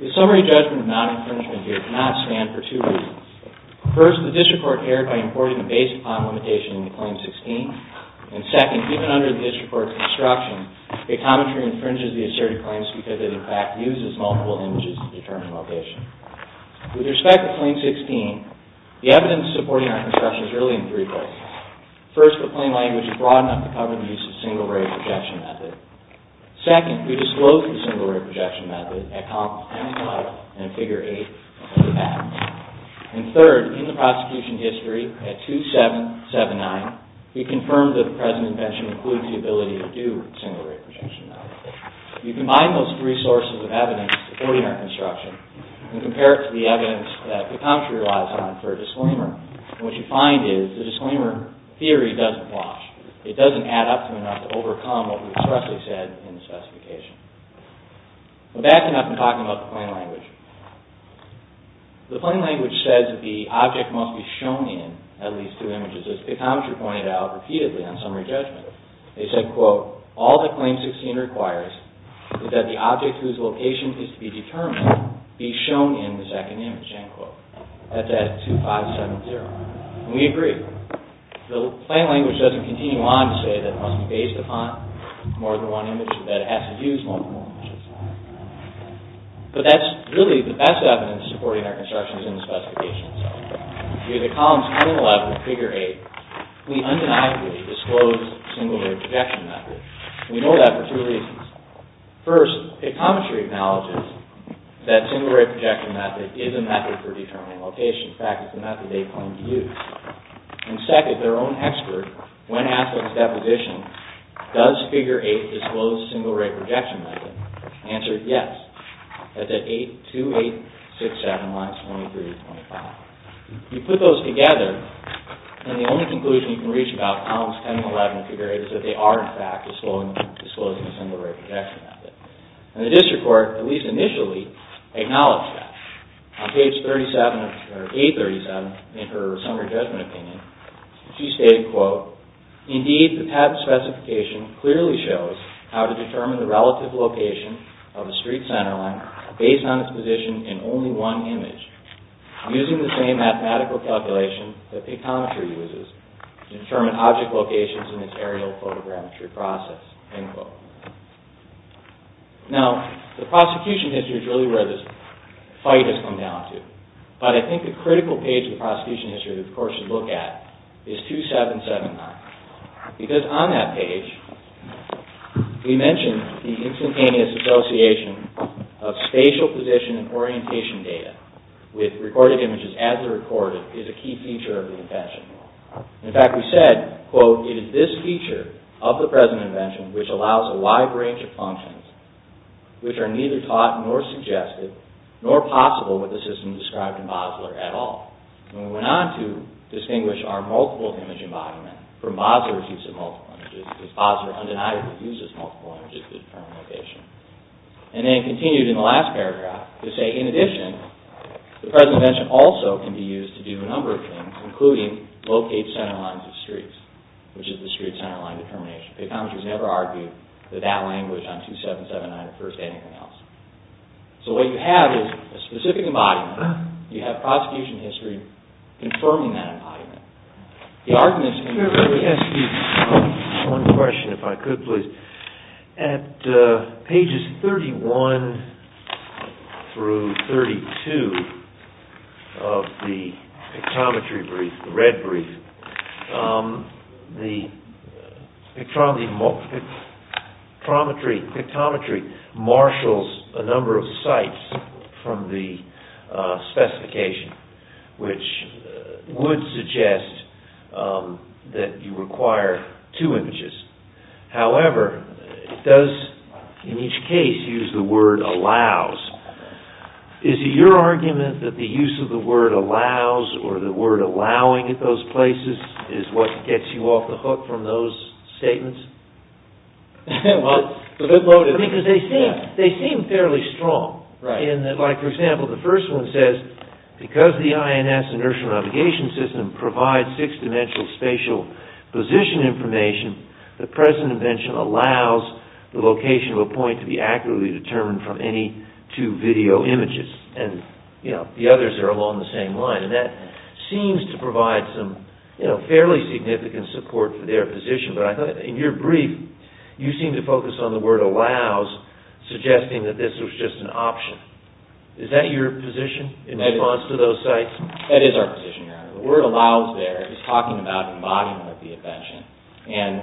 The Summary Judgment of Non-Infringement here cannot stand for two reasons. First, the District Court erred by importing the Basic Pond Limitation into Claim 16. And second, even under the District Court's instruction, PICTOMETRY infringes the Asserted Claims because it, in fact, uses multiple images to determine location. With respect to Claim 16, the evidence supporting our construction is really in three places. First, the plain language is broad enough to cover the use of single-ray projection method. Second, we disclose the single-ray projection method at Columns 25 and Figure 8 of the Act. And third, in the Prosecution History at 2779, we confirm that the present invention includes the ability to do single-ray projection method. If you combine those three sources of evidence supporting our construction and compare it to the evidence that PICTOMETRY relies on for a disclaimer, what you find is the disclaimer theory doesn't wash. It doesn't add up to enough to overcome what we expressly said in the specification. Back to nothing but talking about the plain language. The plain language says that the object must be shown in at least two images, as PICTOMETRY pointed out repeatedly on Summary Judgment. They said, quote, All that Claim 16 requires is that the object whose location is to be determined be shown in the second image, end quote. That's at 2570. And we agree. The plain language doesn't continue on to say that it must be based upon more than one image, or that it has to use multiple images. But that's really the best evidence supporting our constructions in the specification itself. Via the Columns 10 and 11 of Figure 8, we undeniably disclose single-ray projection method. And we know that for two reasons. First, PICTOMETRY acknowledges that single-ray projection method is a method for determining location. In fact, it's a method they claim to use. And second, their own expert, when asked on his deposition, does Figure 8 disclose single-ray projection method, answered yes. That's at 82867 minus 2325. You put those together, and the only conclusion you can reach about Columns 10 and 11 of Figure 8 is that they are, in fact, disclosing a single-ray projection method. And the District Court, at least initially, acknowledged that. On page 837 in her Summary Judgment Opinion, she stated, quote, Indeed, the TAP specification clearly shows how to determine the relative location of a street center line based on its position in only one image, using the same mathematical calculation that PICTOMETRY uses to determine object locations in its aerial photogrammetry process. End quote. Now, the prosecution history is really where this fight has come down to. But I think the critical page in the prosecution history that the Court should look at is 2779. Because on that page, we mention the instantaneous association of spatial position and orientation data with recorded images as they're recorded is a key feature of the invention. In fact, we said, quote, It is this feature of the present invention which allows a wide range of functions which are neither taught nor suggested nor possible with the system described in Basler at all. And we went on to distinguish our multiple image embodiment from Basler's use of multiple images, because Basler undeniably uses multiple images to determine location. And then continued in the last paragraph to say, in addition, the present invention also can be used to do a number of things, including locate center lines of streets, which is the street center line determination. PICTOMETRY has never argued that that language on 2779 refers to anything else. So what you have is a specific embodiment. You have prosecution history confirming that embodiment. The argument is... One question, if I could, please. At pages 31 through 32 of the PICTOMETRY brief, the red brief, the PICTOMETRY marshals a number of sites from the specification, which would suggest that you require two images. However, it does, in each case, use the word allows. Is it your argument that the use of the word allows or the word allowing at those places is what gets you off the hook from those statements? Because they seem fairly strong. For example, the first one says, because the INS inertial navigation system provides six-dimensional spatial position information, the present invention allows the location of a point to be accurately determined from any two video images. And the others are along the same line. And that seems to provide some fairly significant support for their position. But I thought, in your brief, you seem to focus on the word allows, suggesting that this was just an option. Is that your position in response to those sites? That is our position, Your Honor. The word allows there is talking about embodiment of the invention. And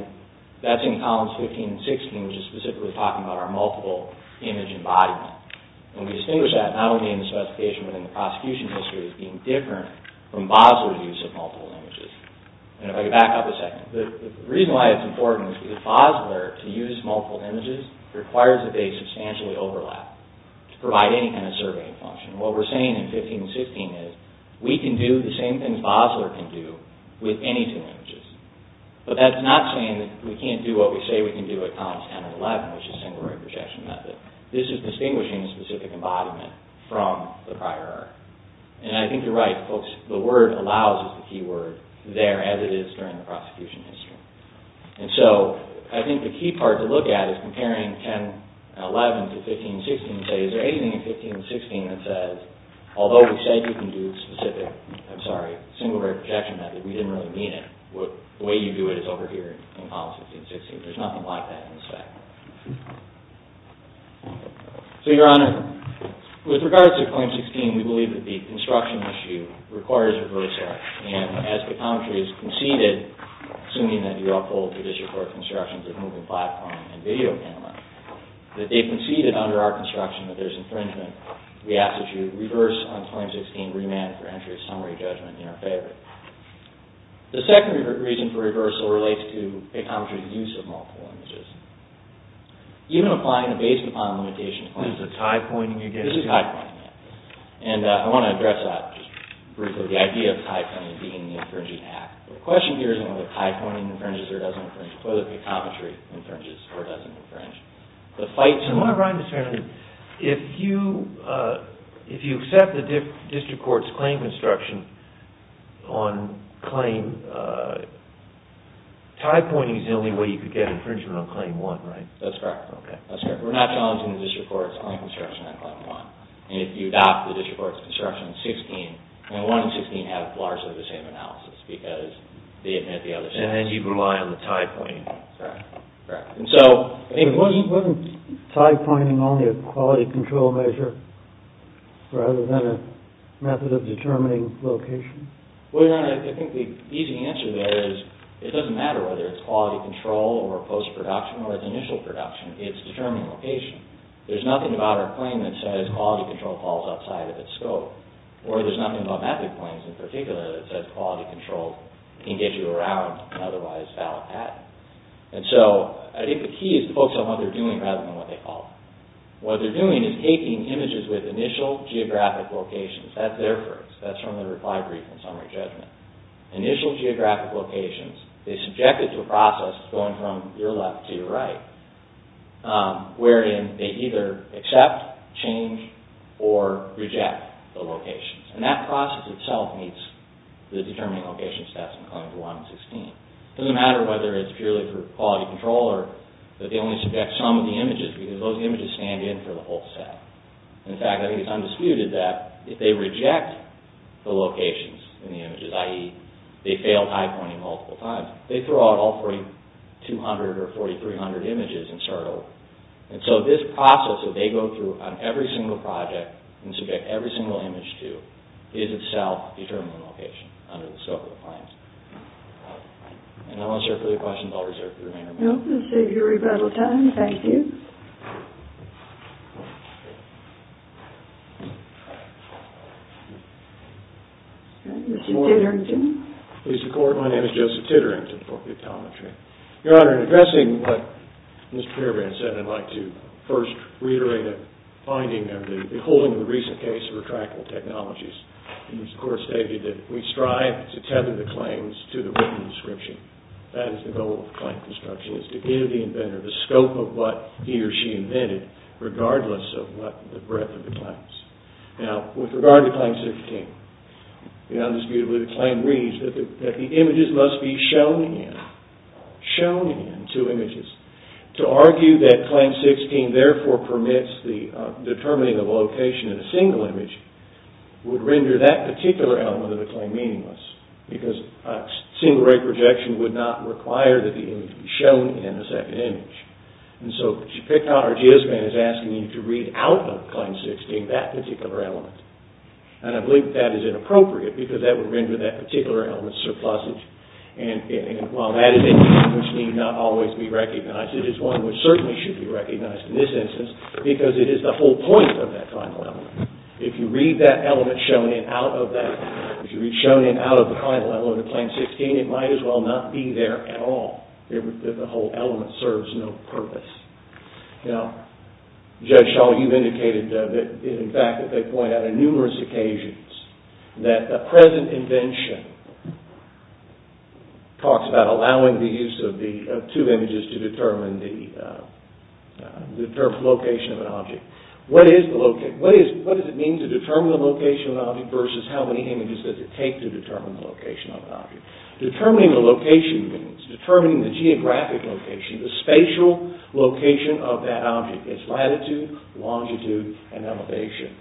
that's in columns 15 and 16, which is specifically talking about our multiple image embodiment. And we distinguish that not only in the specification, but in the prosecution history as being different from Basler's use of multiple images. And if I could back up a second. The reason why it's important is because Basler, to use multiple images, requires that they substantially overlap to provide any kind of surveying function. What we're saying in 15 and 16 is, we can do the same things Basler can do with any two images. But that's not saying that we can't do what we say we can do in columns 10 and 11, which is singularity projection method. This is distinguishing a specific embodiment from the prior art. And I think you're right, folks. The word allows is the key word there, as it is during the prosecution history. And so I think the key part to look at is comparing 10 and 11 to 15 and 16 and say, is there anything in 15 and 16 that says, although we say you can do specific, I'm sorry, singularity projection method, we didn't really mean it. The way you do it is over here in columns 15 and 16. There's nothing like that in this fact. So, Your Honor, with regards to claim 16, we believe that the construction issue requires reversal. And as pictometry has conceded, assuming that you uphold traditional court constructions of moving platform and video camera, that they conceded under our construction that there's infringement, we ask that you reverse on claim 16, remand for entry of summary judgment in our favor. The second reason for reversal relates to pictometry's use of multiple images. Even applying the Bayes Compound Limitation Claims... This is a tie-pointing again? This is a tie-pointing, yes. And I want to address that just briefly. The idea of tie-pointing being the infringing act. The question here isn't whether tie-pointing infringes or doesn't infringe, whether pictometry infringes or doesn't infringe. The fight to... Your Honor, if you accept the district court's claim construction on claim, tie-pointing is the only way you could get infringement on claim 1, right? That's correct. We're not challenging the district court's claim construction on claim 1. And if you adopt the district court's construction on 16, 1 and 16 have largely the same analysis because they admit the other... And then you rely on the tie-pointing. Correct. And so... Wasn't tie-pointing only a quality control measure rather than a method of determining location? Well, Your Honor, I think the easy answer there is it doesn't matter whether it's quality control or post-production or it's initial production. It's determining location. There's nothing about our claim that says quality control falls outside of its scope. Or there's nothing about method claims in particular that says quality control can get you around otherwise valid patent. And so I think the key is to focus on what they're doing rather than what they call. What they're doing is taking images with initial geographic locations. That's their phrase. That's from the reply brief in summary judgment. Initial geographic locations. They subject it to a process going from your left to your right wherein they either accept, change, or reject the locations. And that process itself meets the determining location steps in claims 1 and 16. It doesn't matter whether it's purely for quality control or that they only subject some of the images because those images stand in for the whole set. In fact, I think it's undisputed that if they reject the locations in the images, i.e. they fail high pointing multiple times, they throw out all 4,200 or 4,300 images and start over. And so this process that they go through on every single project and subject every single image to is itself determining location under the scope of the claims. And I'm not sure if there are any questions I'll reserve for the remainder of the time. No, we'll save your rebuttal time. Thank you. Mr. Titterington. Mr. Court, my name is Joseph Titterington for the Atometry. Your Honor, in addressing what Mr. Perebrand said, I'd like to first reiterate a finding of the beholding of the recent case of retractable technologies. Mr. Court stated that we strive to tether the claims to the written description. That is the goal of claim construction, is to give the inventor the scope of what he or she invented regardless of the breadth of the claims. Now, with regard to Claim 16, undisputedly the claim reads that the images must be shown in. Shown in, two images. To argue that Claim 16 therefore permits the determining of location in a single image would render that particular element of the claim meaningless because a single ray projection would not require that the image be shown in a second image. And so, what you've picked on, or what GSBAN is asking you to read out of Claim 16, that particular element. And I believe that is inappropriate because that would render that particular element surplusage. And while that is an element which need not always be recognized, it is one which certainly should be recognized in this instance because it is the whole point of that final element. If you read that element shown in out of that, if you read shown in out of the final element of Claim 16, it might as well not be there at all. The whole element serves no purpose. Now, Judge Shaw, you've indicated in fact that they point out on numerous occasions that the present invention talks about allowing the use of two images to determine the location of an object. What does it mean to determine the location of an object versus how many images does it take to determine the location of an object? Determining the location means determining the geographic location, the spatial location of that object. It's latitude, longitude, and elevation.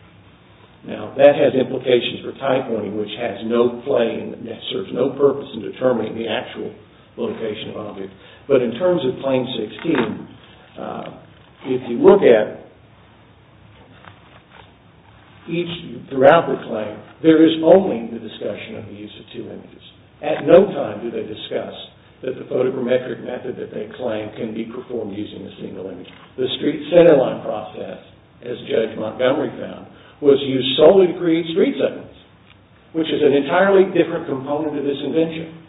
Now, that has implications for type learning, which has no claim that serves no purpose in determining the actual location of an object. But in terms of Claim 16, if you look at each throughout the claim, there is only the discussion of the use of two images. At no time do they discuss that the photogrammetric method that they claim can be performed using a single image. The street centerline process, as Judge Montgomery found, was used solely to create street segments, which is an entirely different component of this invention.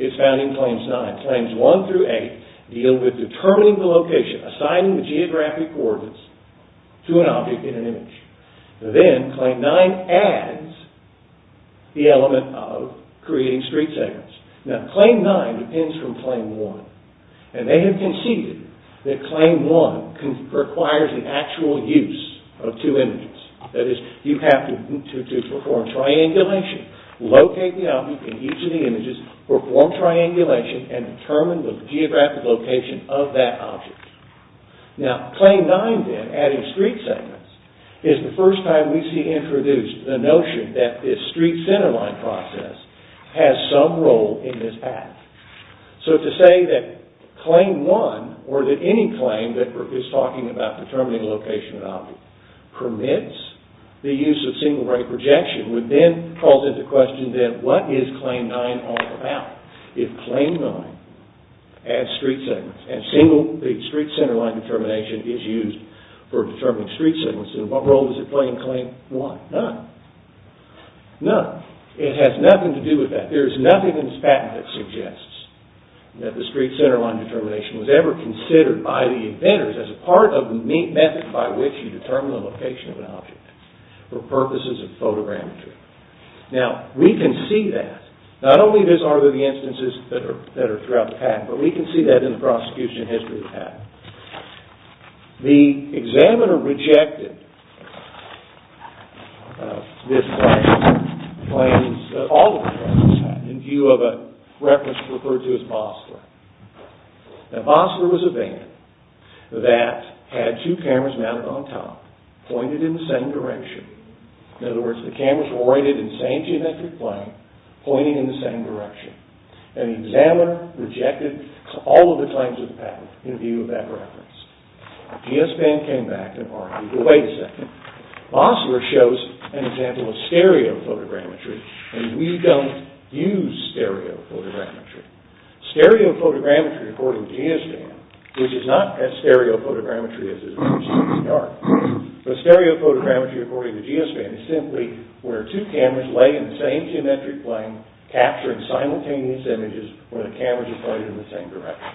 It's found in Claims 9. Claims 1 through 8 deal with determining the location, assigning the geographic coordinates to an object in an image. Then, Claim 9 adds the element of creating street segments. Now, Claim 9 depends from Claim 1, and they have conceded that Claim 1 requires the actual use of two images. That is, you have to perform triangulation, locate the object in each of the images, perform triangulation, and determine the geographic location of that object. Now, Claim 9 then, adding street segments, is the first time we see introduced the notion that this street centerline process has some role in this act. So, to say that Claim 1, or that any claim that is talking about determining the location of an object, permits the use of single-brain projection, would then cause into question, then, what is Claim 9 all about? If Claim 9 adds street segments, and the street centerline determination is used for determining street segments, then what role does it play in Claim 1? None. None. It has nothing to do with that. There is nothing in this patent that suggests that the street centerline determination was ever considered by the inventors as part of the method by which you determine the location of an object for purposes of photogrammetry. Now, we can see that. Not only are there the instances that are throughout the patent, but we can see that in the prosecution history of the patent. The examiner rejected this claim, the claims that all of the plaintiffs had, in view of a reference referred to as Mosler. Now, Mosler was a band that had two cameras mounted on top, pointed in the same direction. In other words, the cameras were oriented in the same geometric plane, pointing in the same direction. And the examiner rejected all of the claims of the patent, in view of that reference. The DS band came back and argued, well, wait a second, Mosler shows an example of stereo photogrammetry, and we don't use stereo photogrammetry. Stereo photogrammetry, according to the DS band, which is not as stereo photogrammetry as it appears in the art, but stereo photogrammetry, according to the DS band, is simply where two cameras lay in the same geometric plane, capturing simultaneous images, where the cameras are pointed in the same direction.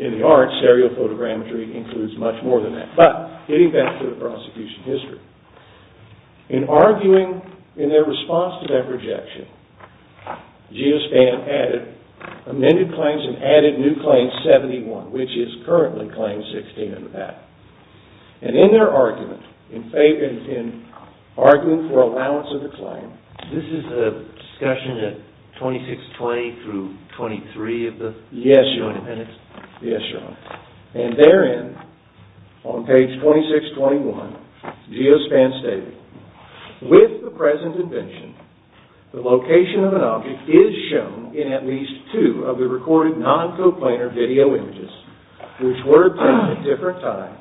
In the art, stereo photogrammetry includes much more than that. But, getting back to the prosecution history, in arguing in their response to that rejection, Geospan added amended claims and added new claim 71, which is currently claim 16 of the patent. And in their argument, in arguing for allowance of the claim, This is the discussion at 2620 through 23 of the? Yes, Your Honor. Yes, Your Honor. And therein, on page 2621, Geospan stated, With the present invention, the location of an object is shown in at least two of the recorded non-coplanar video images, which were obtained at different times,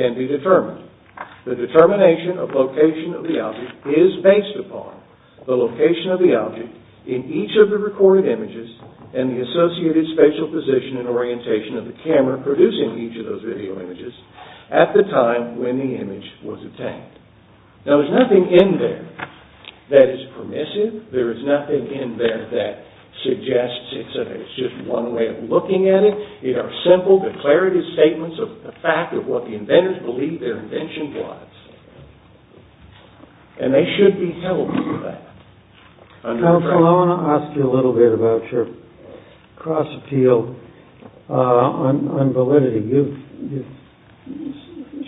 can be determined. The determination of location of the object is based upon the location of the object in each of the recorded images and the associated spatial position and orientation of the camera producing each of those video images at the time when the image was obtained. Now, there's nothing in there that is permissive. There is nothing in there that suggests it's just one way of looking at it. It are simple declarative statements of the fact of what the inventors believed their invention was. And they should be held to that. Counsel, I want to ask you a little bit about your cross-appeal on validity. You've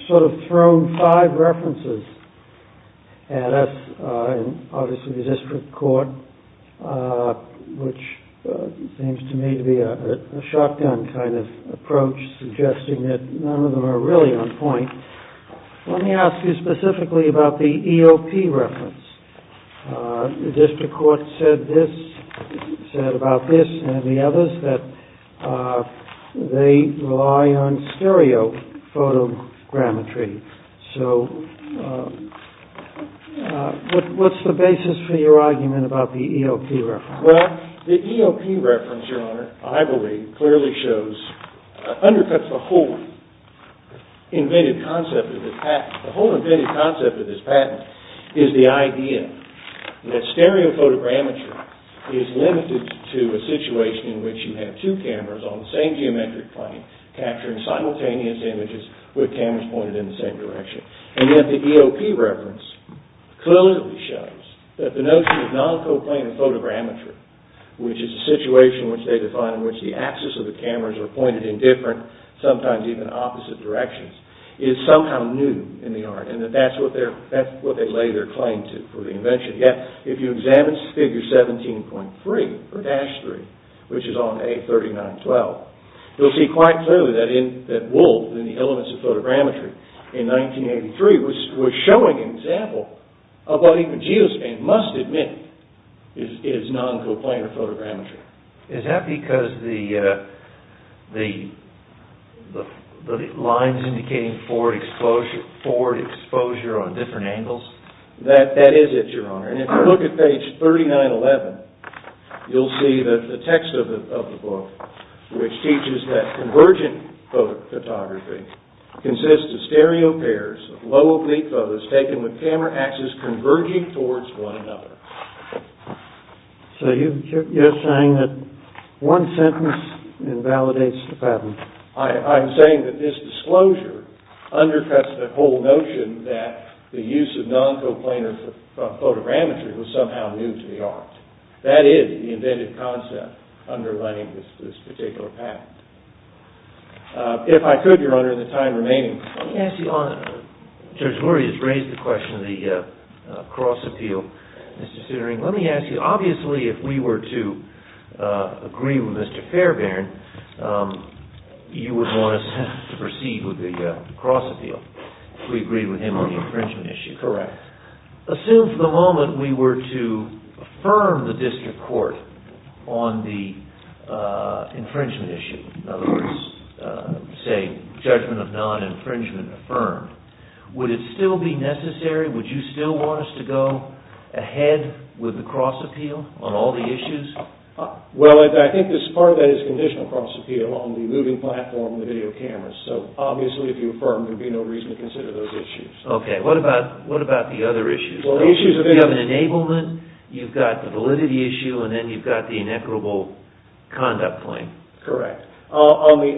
sort of thrown five references at us, obviously the district court, which seems to me to be a shotgun kind of approach, suggesting that none of them are really on point. Let me ask you specifically about the EOP reference. The district court said this, said about this and the others, that they rely on stereophotogrammetry. So, what's the basis for your argument about the EOP reference? Well, the EOP reference, Your Honor, I believe, clearly shows, undercuts the whole inventive concept of this patent. The whole inventive concept of this patent is the idea that stereophotogrammetry is limited to a situation in which you have two cameras on the same geometric plane capturing simultaneous images with cameras pointed in the same direction. And yet the EOP reference clearly shows that the notion of non-coplanar photogrammetry, which is a situation which they define in which the axis of the cameras are pointed in different, sometimes even opposite directions, is somehow new in the art. And that's what they lay their claim to for the invention. Yet, if you examine Figure 17.3 or Dash 3, which is on A3912, you'll see quite clearly that Woolf, in the elements of photogrammetry, in 1983 was showing an example of what he produced and must admit is non-coplanar photogrammetry. Is that because the lines indicating forward exposure, or different angles? That is it, Your Honor. And if you look at page 3911, you'll see that the text of the book, which teaches that convergent photography consists of stereo pairs of low oblique photos taken with camera axes converging towards one another. So you're saying that one sentence invalidates the patent. I'm saying that this disclosure undercuts the whole notion that the use of non-coplanar photogrammetry was somehow new to the art. That is the invented concept underlining this particular patent. If I could, Your Honor, in the time remaining, let me ask you, Judge Lurie has raised the question of the cross-appeal. Let me ask you, obviously, if we were to agree with Mr. Fairbairn, you would want us to proceed with the cross-appeal if we agreed with him on the infringement issue. Correct. Assume for the moment we were to affirm the district court on the infringement issue. In other words, say, judgment of non-infringement affirmed. Would it still be necessary? Would you still want us to go ahead with the cross-appeal on all the issues? Well, I think part of that is conditional cross-appeal on the moving platform and the video cameras. Obviously, if you affirm, there would be no reason to consider those issues. Okay. What about the other issues? You have an enablement, you've got the validity issue, and then you've got the inequitable conduct claim. Correct. On the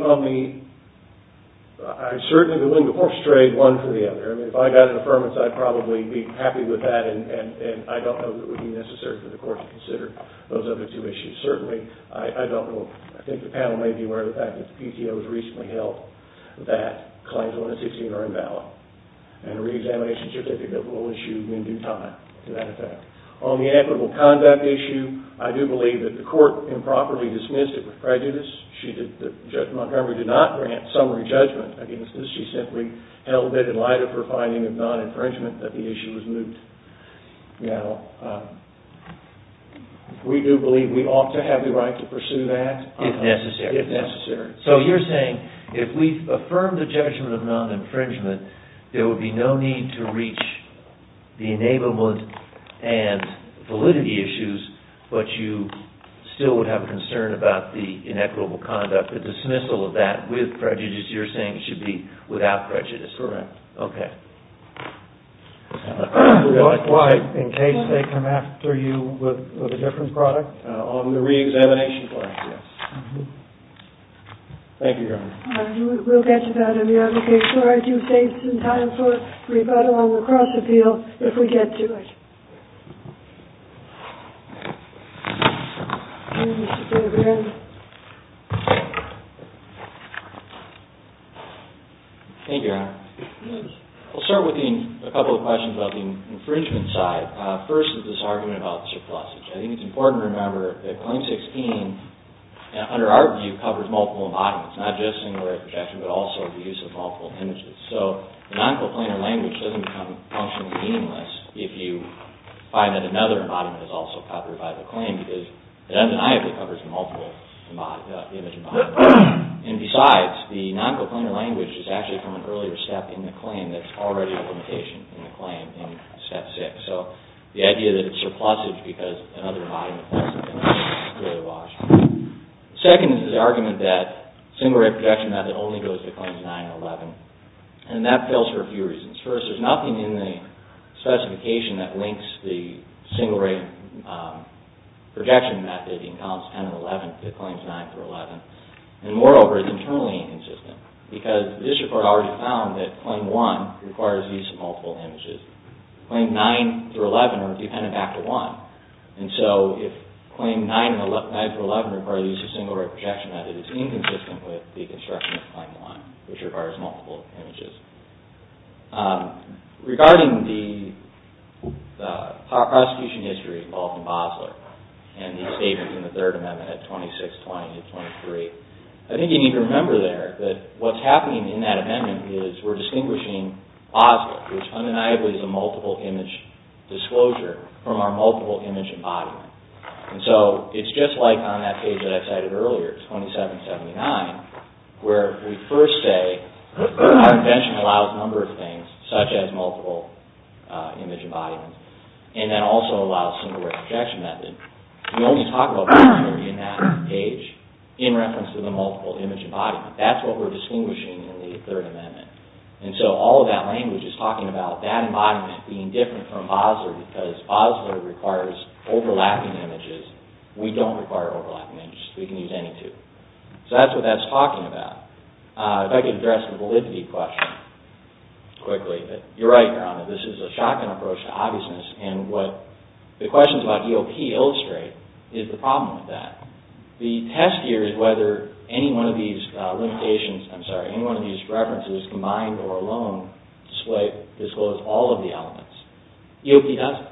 horse trade, one for the other. If I got an affirmance, I'd probably be happy with that, and I don't know that it would be necessary for the court to consider those other two issues. Certainly, I don't know. I think the panel may be aware of the fact that the PTO has recently held that claims 116 are invalid, and a reexamination certificate will issue in due time to that effect. On the inequitable conduct issue, I do believe that the court improperly dismissed it with prejudice. Judge Montgomery did not grant summary judgment against this. She simply held it in light of her finding of non-infringement that the issue was moot. We do believe we ought to have the right to pursue that. If necessary. If necessary. So you're saying if we affirm the judgment of non-infringement, there would be no need to reach the enablement and validity issues, but you still would have a concern about the inequitable conduct, the dismissal of that with prejudice. You're saying it should be without prejudice. Correct. Okay. Likewise, in case they come after you with a different product? On the reexamination plan, yes. Thank you, Your Honor. We'll get to that in the application. I do save some time for rebuttal on the cross-appeal if we get to it. Thank you, Your Honor. We'll start with a couple of questions about the infringement side. First is this argument about the surplus. I think it's important to remember that Claim 16, under our view, covers multiple embodiments, not just singularity of projection, but also the use of multiple images. So the non-coplainer language doesn't become functionally meaningless if you find that another embodiment is also covered by the claim because it undeniably covers the multiple image embodiment. And besides, the non-coplainer language is actually from an earlier step in the claim that's already a limitation in the claim in Step 6. So the idea that it's surplusage because another embodiment doesn't cover it is clearly wrong. Second is this argument that the singularity of projection method only goes to Claims 9 and 11. And that fails for a few reasons. First, there's nothing in the specification that links the singularity of projection method in Counts 10 and 11 to Claims 9 through 11. And moreover, it's internally inconsistent because the district court already found that Claim 1 requires the use of multiple images. Claim 9 through 11 are dependent back to 1. And so if Claim 9 through 11 requires the use of singularity of projection method, it's inconsistent with the construction of Claim 1, which requires multiple images. Regarding the prosecution history involved in Basler and the statements in the Third Amendment at 2620 and 23, I think you need to remember there that what's happening in that amendment is we're distinguishing Basler, which undeniably is a multiple image disclosure, from our multiple image embodiment. And so it's just like on that page that I cited earlier, 2779, where we first say our invention allows a number of things, such as multiple image embodiments, and that also allows singularity of projection method. We only talk about singularity in that page in reference to the multiple image embodiment. That's what we're distinguishing in the Third Amendment. And so all of that language is talking about that embodiment being different from Basler because Basler requires overlapping images. We don't require overlapping images. We can use any two. So that's what that's talking about. If I could address the validity question quickly. You're right, Brown, that this is a shotgun approach to obviousness, and what the questions about EOP illustrate is the problem with that. The test here is whether any one of these limitations, I'm sorry, any one of these references, combined or alone, disclose all of the elements. EOP doesn't.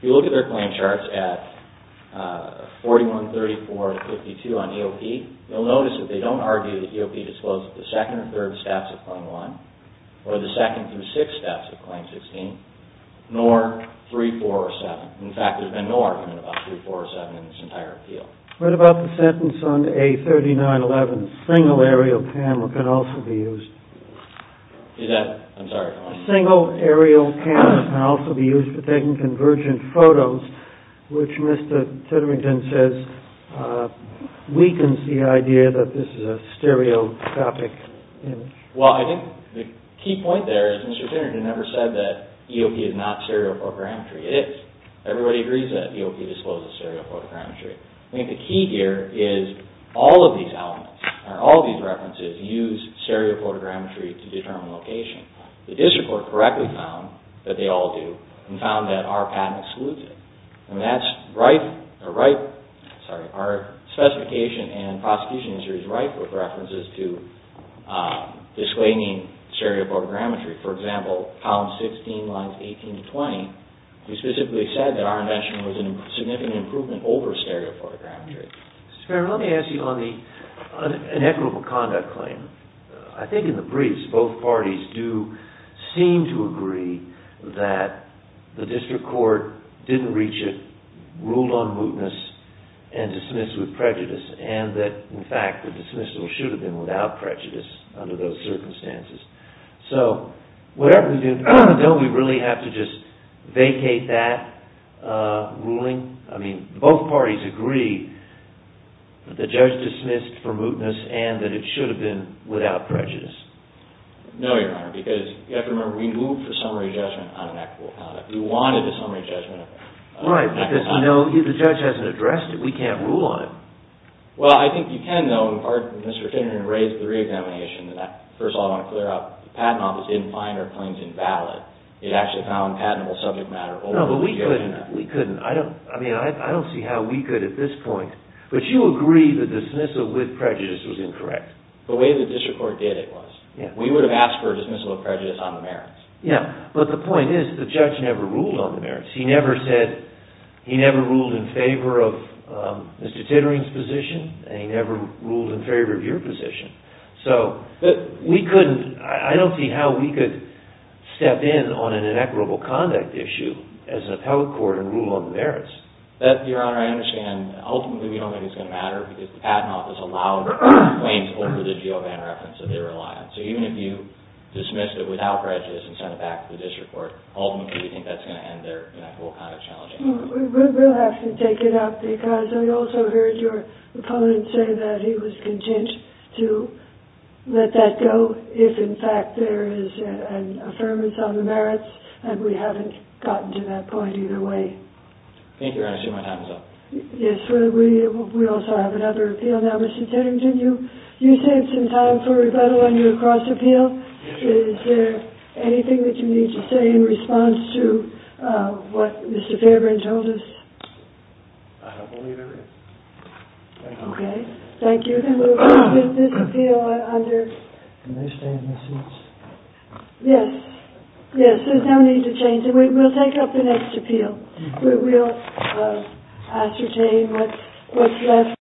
If you look at their claim charts at 41, 34, and 52 on EOP, you'll notice that they don't argue that EOP discloses the second or third steps of Claim 1 or the second through sixth steps of Claim 16, nor 3, 4, or 7. In fact, there's been no argument about 3, 4, or 7 in this entire appeal. What about the sentence on A3911, single aerial camera can also be used. Is that... I'm sorry. Single aerial cameras can also be used for taking convergent photos, which Mr. Titterington says weakens the idea that this is a stereoscopic image. Well, I think the key point there is Mr. Titterington never said that EOP is not stereoprogrammetry. It is. It is that EOP discloses stereoprogrammetry. I think the key here is all of these elements, or all of these references, use stereoprogrammetry to determine location. The district court correctly found that they all do and found that our patent excludes it. And that's right... Sorry. Our specification and prosecution history is ripe with references to disclaiming stereoprogrammetry. For example, Column 16, Lines 18 to 20, we specifically said that our invention was a significant improvement over stereoprogrammetry. Mr. Chairman, let me ask you on the inequitable conduct claim. I think in the briefs, both parties do seem to agree that the district court didn't reach it, ruled on mootness, and dismissed with prejudice, and that, in fact, the dismissal should have been without prejudice under those circumstances. So, whatever we do, don't we really have to just vacate that ruling? I mean, both parties agree that the judge dismissed for mootness and that it should have been without prejudice. No, Your Honor, because you have to remember we moved for summary judgment on inequitable conduct. We wanted a summary judgment. Right, because we know the judge hasn't addressed it. We can't rule on it. Well, I think you can, though, in part, Mr. Finneran raised the re-examination. First of all, I want to clear up, the Patent Office didn't find our claims invalid. It actually found patentable subject matter over the years. No, but we couldn't. I don't see how we could at this point. But you agree the dismissal with prejudice was incorrect. The way the district court did it was. We would have asked for a dismissal of prejudice on the merits. Yeah, but the point is, the judge never ruled on the merits. He never said, he never ruled in favor of Mr. Tittering's position, and he never ruled in favor of your position. So, we couldn't. I don't see how we could step in on an inequitable conduct issue as an appellate court and rule on the merits. Your Honor, I understand. Ultimately, we don't think it's going to matter because the Patent Office allowed claims over the GeoVan reference that they rely on. So, even if you dismissed it without prejudice and sent it back to the district court, ultimately, we think that's going to end their inequitable conduct challenge. We'll have to take it up because we also heard your opponent say that he was content to let that go if, in fact, there is an affirmance on the merits and we haven't gotten to that point either way. Thank you, Your Honor. I see my time is up. Yes, we also have another appeal now. Mr. Tittering, you saved some time for rebuttal on your cross-appeal. Is there anything that you need to say in response to what Mr. Fairburn told us? I don't believe there is. Okay. Thank you. And we'll move this appeal under... Can they stay in their seats? Yes. Yes, there's no need to change it. We'll take up the next appeal. We'll ascertain what's left.